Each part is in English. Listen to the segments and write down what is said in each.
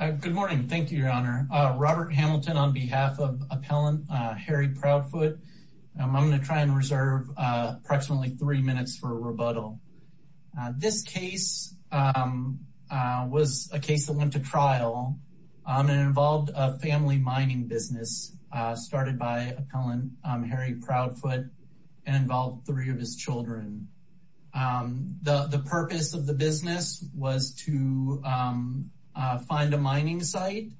Good morning, thank you your honor. Robert Hamilton on behalf of appellant Harry Proudfoot. I'm going to try and reserve approximately three minutes for rebuttal. This case was a case that went to trial and involved a family mining business started by appellant Harry Proudfoot and involved three of his mining site.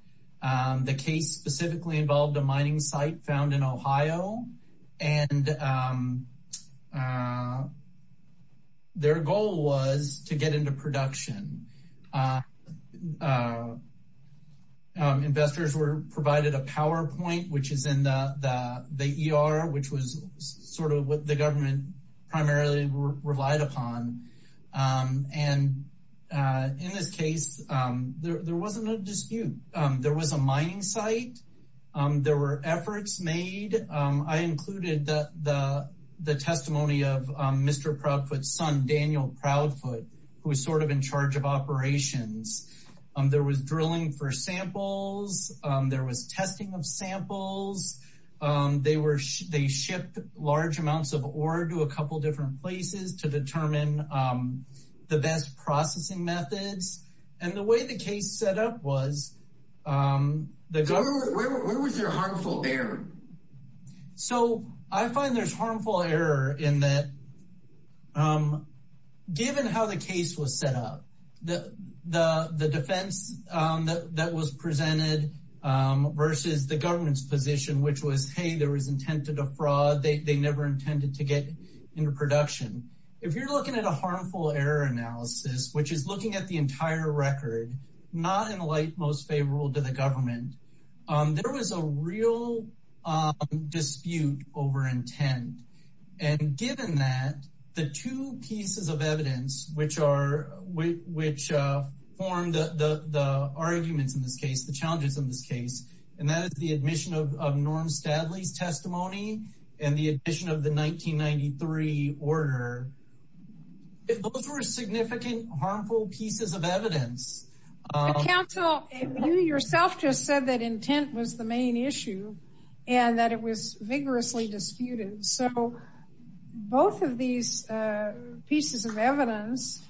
The case specifically involved a mining site found in Ohio and their goal was to get into production. Investors were provided a PowerPoint which is in the the ER which was sort of what the government primarily relied upon and in this case there wasn't a dispute. There was a mining site, there were efforts made. I included the testimony of Mr. Proudfoot's son Daniel Proudfoot who was sort of in charge of operations. There was drilling for samples, there was testing of samples, they shipped large amounts of the best processing methods and the way the case set up was the government so I find there's harmful error in that given how the case was set up the the the defense that was presented versus the government's position which was hey there was intent to defraud they never intended to get into production. If you're looking at a harmful error analysis which is looking at the entire record not in the light most favorable to the government there was a real dispute over intent and given that the two pieces of evidence which are which formed the the arguments in this case the challenges in this case and that is the admission of Norm Stadley's testimony and the addition of the 1993 order. Those were significant harmful pieces of evidence. Counsel you yourself just said that intent was the main issue and that it was vigorously disputed so both of these pieces of evidence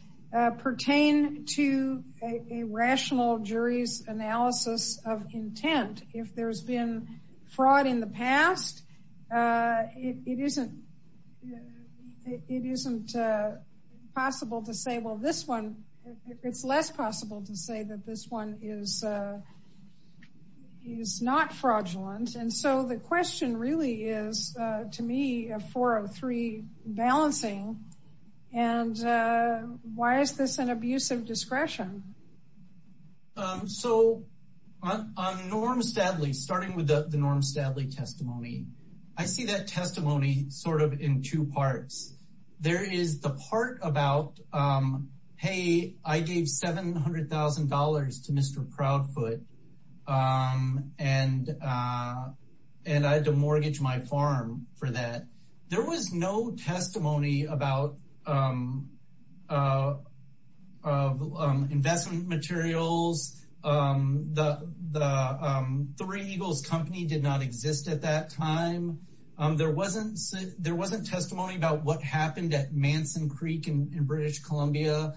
pertain to a rational jury's analysis of intent. If there's been fraud in the past it isn't it isn't possible to say well this one it's less possible to say that this one is is not fraudulent and so the question really is to me a 403 balancing and why is this an abuse of discretion? So on Norm Stadley starting with the Norm Stadley testimony I see that testimony sort of in two parts. There is the part about hey I gave seven hundred thousand dollars to Mr. Proudfoot and and I had to mortgage my farm for that. There was no testimony about investment materials. The Three Eagles company did not exist at that time. There wasn't there wasn't testimony about what happened at Manson Creek in British Columbia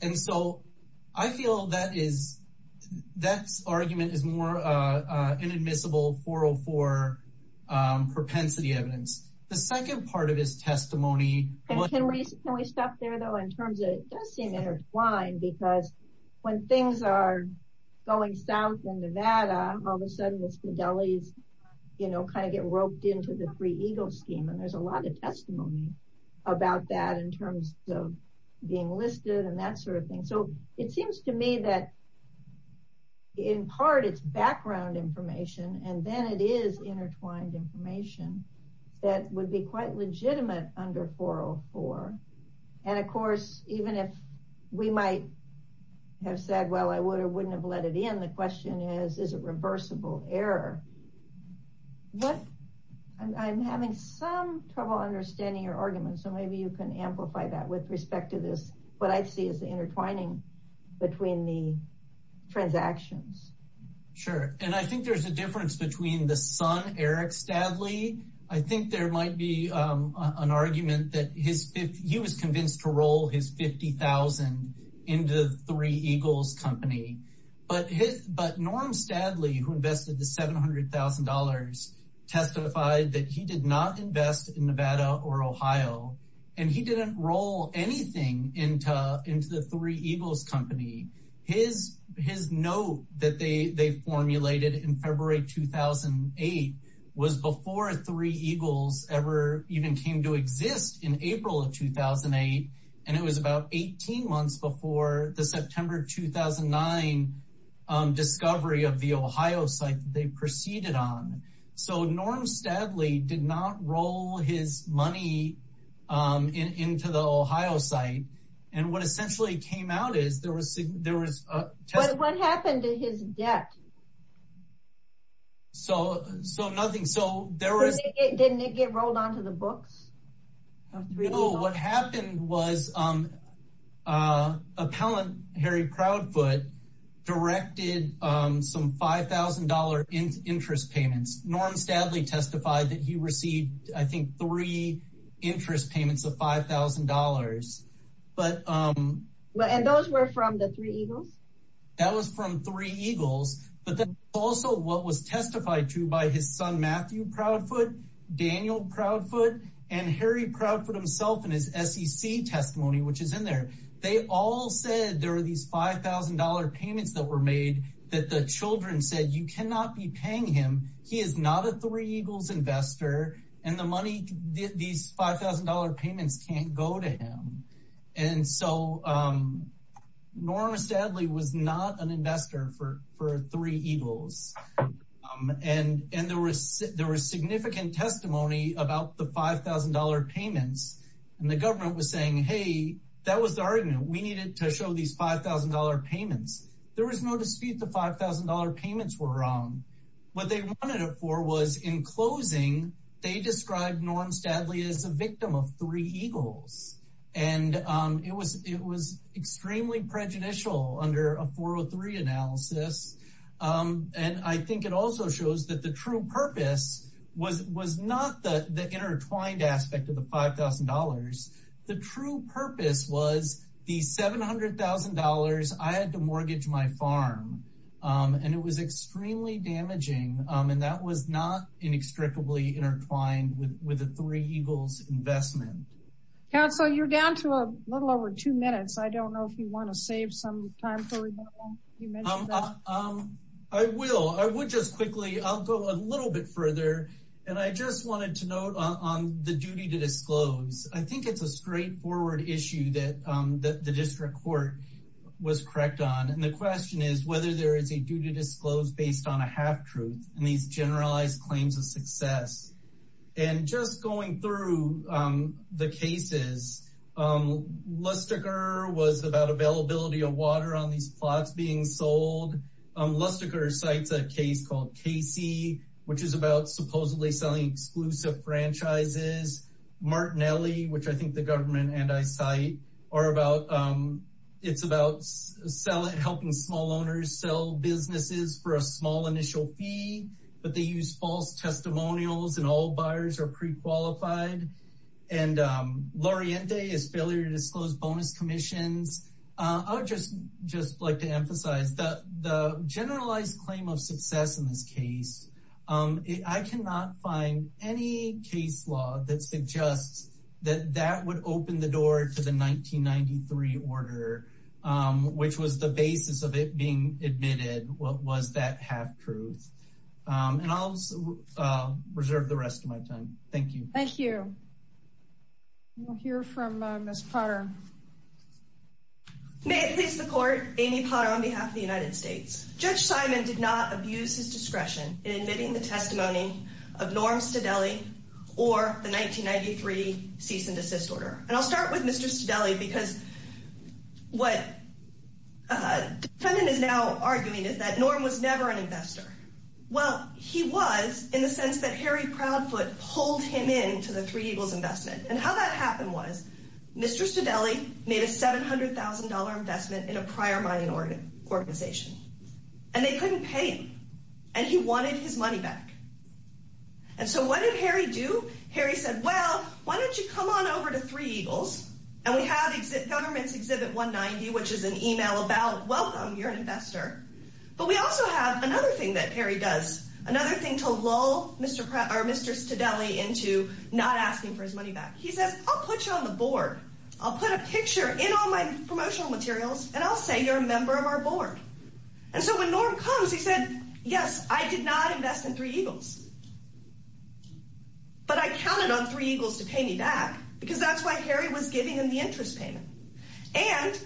and so I feel that is that's argument is more testimony. Can we stop there though in terms of it does seem intertwined because when things are going south in Nevada all of a sudden the Stadley's you know kind of get roped into the Three Eagles scheme and there's a lot of testimony about that in terms of being listed and that sort of thing so it seems to me that in part it's background information and then it is intertwined information that would be quite legitimate under 404 and of course even if we might have said well I would or wouldn't have let it in the question is is a reversible error. I'm having some trouble understanding your argument so maybe you can amplify that with respect to this what I see is the intertwining between the transactions. Sure and I think there's a difference between the son Eric Stadley. I think there might be an argument that he was convinced to roll his 50,000 into the Three Eagles company but Norm Stadley who invested the $700,000 testified that he did not invest in Nevada or Ohio and he didn't roll anything into into the Three Eagles company. His note that they formulated in February 2008 was before Three Eagles ever even came to exist in April of 2008 and it was about 18 months before the September 2009 discovery of the Ohio site they proceeded on. So Norm Stadley did not roll his money into the Ohio site and what essentially came out is there was there was what happened to his debt? So so nothing so there was. Didn't it get rolled onto the books? No what happened was appellant Harry Proudfoot directed some $5,000 interest payments. Norm Stadley testified that he received I think three interest payments of $5,000 but. And those were from the Three Eagles? That was from Three Eagles but then also what was testified to by his son Matthew Proudfoot, Daniel Proudfoot and Harry Proudfoot himself in his SEC testimony which is in there they all said there are these $5,000 payments that were made that the children said you cannot be paying him he is not a Three Eagles investor and the money these $5,000 payments can't go to him and so Norm Stadley was not an investor for for Three Eagles and and there was there was significant testimony about the $5,000 payments and the government was saying hey that was the argument we needed to show these $5,000 payments there was no dispute the $5,000 payments were wrong what they wanted it for was in closing they described Norm Stadley as a victim of Three Eagles and it was it was extremely prejudicial under a 403 analysis and I think it also shows that the true purpose was was not the the intertwined aspect of the $5,000 the true purpose was the $700,000 I had to mortgage my farm and it was extremely damaging and that was not inextricably intertwined with the Three Eagles investment. Counselor you're down to a little over two minutes I don't know if you want to save some time. I will I would just quickly I'll go a little bit further and I just wanted to note on the duty to disclose I think it's a straightforward issue that the district court was correct on and the question is whether there is a duty to disclose based on a half-truth and these generalized claims of success and just going through the cases Lustiger was about availability of water on these plots being sold Lustiger cites a case called Casey which is about supposedly selling exclusive franchises Martinelli which I think the government and I cite are about it's about selling helping small owners sell businesses for a small initial fee but they use false testimonials and all buyers are pre-qualified and Laureate is failure to disclose bonus commissions I would just just like to emphasize that the generalized claim of success in this case I cannot find any case law that suggests that that would open the door to the 1993 order which was the basis of it being admitted what was that half-truth and I'll reserve the rest of my time thank you thank you we'll hear from Miss Potter may it please the court Amy Potter on behalf of the United States judge Simon did not abuse his discretion in admitting the testimony of Norm Stadelli or the 1993 cease and desist order and I'll start with mr. Stadelli because what feminine is now arguing is that Norm was never an investor well he was in the sense that Harry Proudfoot pulled him in to the three Eagles investment and how that happened was mr. Stadelli made a $700,000 investment in a prior mining organ organization and they couldn't pay him and he wanted his money back and so what did Harry do Harry said well why don't you come on over to three Eagles and we have government's exhibit 190 which is an email about welcome you're an investor but we also have another thing that Harry does another thing to lull mr. Pratt or mr. Stadelli into not asking for his money back he says I'll put you on the board I'll put a picture in all my promotional materials and I'll say you're a member of our board and so when Norm comes he said yes I did not invest in three Eagles but I counted on three Eagles to and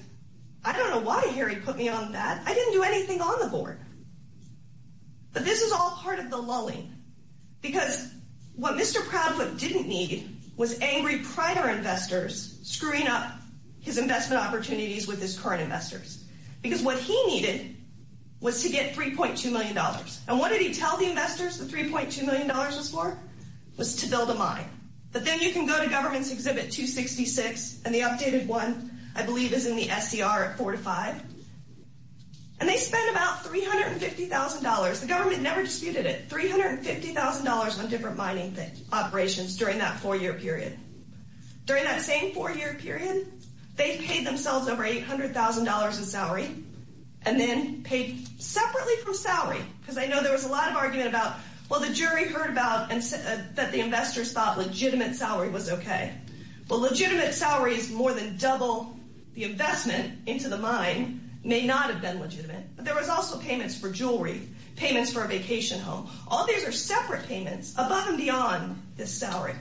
I don't know why Harry put me on that I didn't do anything on the board but this is all part of the lulling because what mr. Proudfoot didn't need was angry prior investors screwing up his investment opportunities with his current investors because what he needed was to get 3.2 million dollars and what did he tell the investors the 3.2 million dollars was for was to build a you can go to government's exhibit 266 and the updated one I believe is in the SCR at four to five and they spend about three hundred and fifty thousand dollars the government never disputed it three hundred and fifty thousand dollars on different mining operations during that four-year period during that same four-year period they paid themselves over $800,000 in salary and then paid separately from salary because I know there was a lot of argument about well the jury heard about and said that the investors thought legitimate salary was okay well legitimate salaries more than double the investment into the mine may not have been legitimate but there was also payments for jewelry payments for a vacation home all these are separate payments above and beyond this salary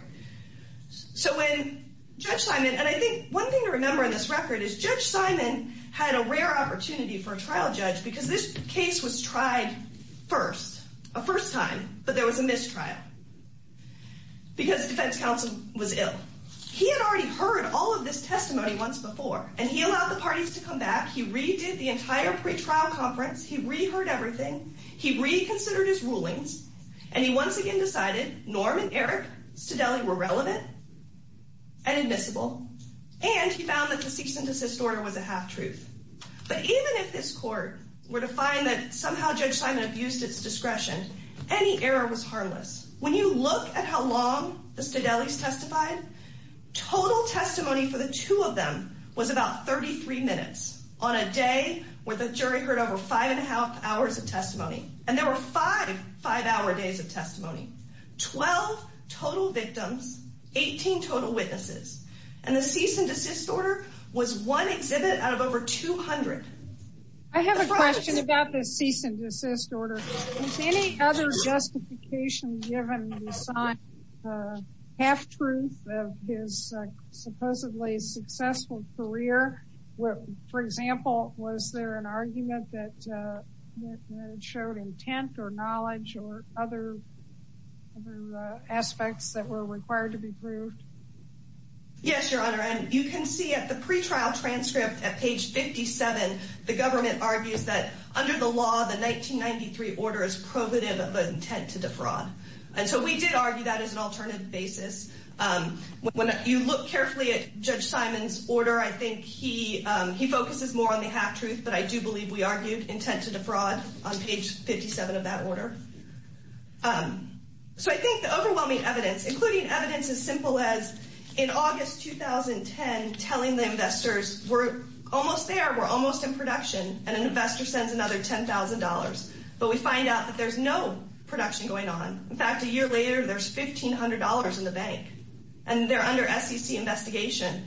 so when Judge Simon and I think one thing to remember in this record is Judge Simon had a rare opportunity for a trial judge because this case was tried first a first time but there was a mistrial because defense counsel was ill he had already heard all of this testimony once before and he allowed the parties to come back he redid the entire pretrial conference he reheard everything he reconsidered his rulings and he once again decided Norm and Eric Stedele were relevant and admissible and he found that the cease and desist order was a half-truth but even if this court were to find that somehow Judge Simon abused its discretion any error was harmless when you look at how long the Stedele's testified total testimony for the two of them was about 33 minutes on a day where the jury heard over five and a half hours of testimony and there were five five-hour days of testimony 12 total victims 18 total witnesses and the cease-and-desist order was one exhibit out of over 200 I have a question about the cease-and-desist order any other justification given half-truth of his supposedly successful career well for example was there an argument that showed intent or knowledge or other aspects that were required to be proved yes your honor and you can see at the pretrial transcript at page 57 the law the 1993 order is probative of intent to defraud and so we did argue that as an alternative basis when you look carefully at Judge Simon's order I think he he focuses more on the half-truth but I do believe we argued intent to defraud on page 57 of that order so I think the overwhelming evidence including evidence as simple as in August 2010 telling the investors we're almost there we're almost in production and an investor sends another $10,000 but we find out that there's no production going on in fact a year later there's $1,500 in the bank and they're under SEC investigation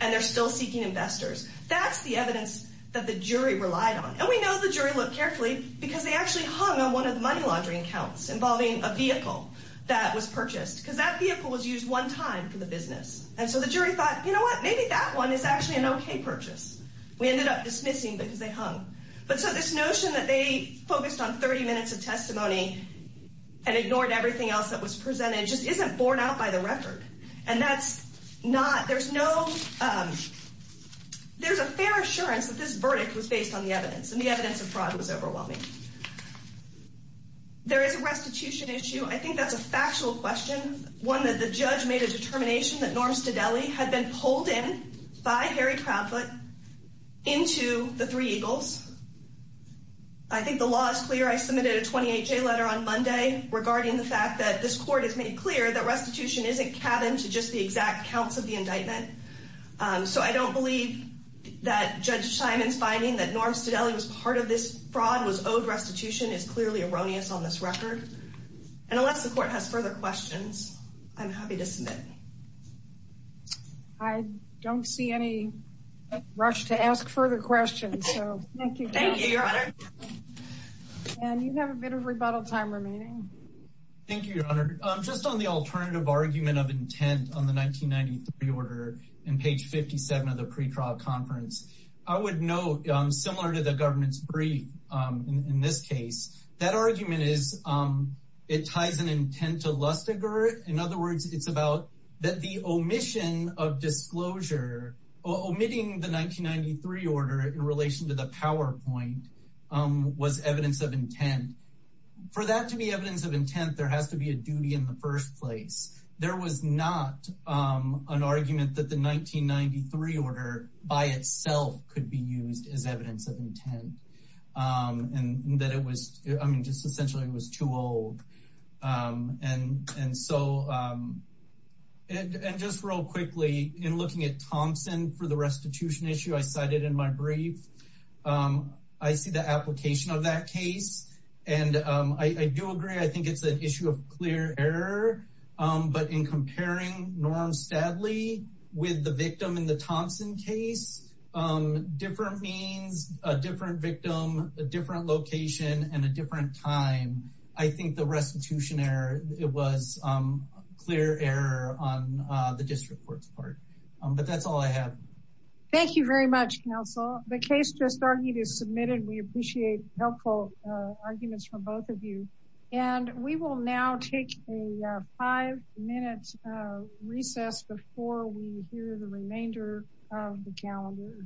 and they're still seeking investors that's the evidence that the jury relied on and we know the jury look carefully because they actually hung on one of the money laundering accounts involving a vehicle that was purchased because that vehicle was used one time for the business and so the jury thought you know what maybe that one is actually an okay purchase we ended up dismissing because they hung but so this notion that they focused on 30 minutes of testimony and ignored everything else that was presented just isn't borne out by the record and that's not there's no there's a fair assurance that this verdict was based on the evidence and the evidence of fraud was overwhelming there is a restitution issue I think that's a factual question one that the judge made a determination that Norm Stedelli had been pulled in by Harry Crabfoot into the Three Eagles I think the law is clear I submitted a 28-J letter on Monday regarding the fact that this court has made clear that restitution isn't cabin to just the exact counts of the indictment so I don't believe that Judge Simon's finding that Norm Stedelli was part of this fraud was owed restitution is clearly erroneous on this record and unless the court has further questions I'm happy to submit I don't see any rush to ask further questions so thank you thank you your honor and you have a bit of rebuttal time remaining thank you your honor just on the alternative argument of intent on the 1993 order in page 57 of the pretrial conference I would know I'm similar to the government's brief in this case that argument is it ties an intent to Lustiger in other words it's about that the omission of disclosure omitting the 1993 order in relation to the PowerPoint was evidence of intent for that to be evidence of intent there has to be a duty in the first place there was not an argument that the 1993 order by itself could be used as evidence of intent and that it was I mean just essentially it was too old and and so and just real quickly in looking at Thompson for the restitution issue I cited in my brief I see the application of that case and I do agree I think it's an issue of clear error but in comparing norms sadly with the victim in the Thompson case different means a different victim a different location and a different time I think the restitution error it was clear error on the district courts part but that's all I have thank you very much counsel the case just argued is submitted we appreciate helpful arguments from both of you and we will now take a five recess before we hear the remainder of the calendar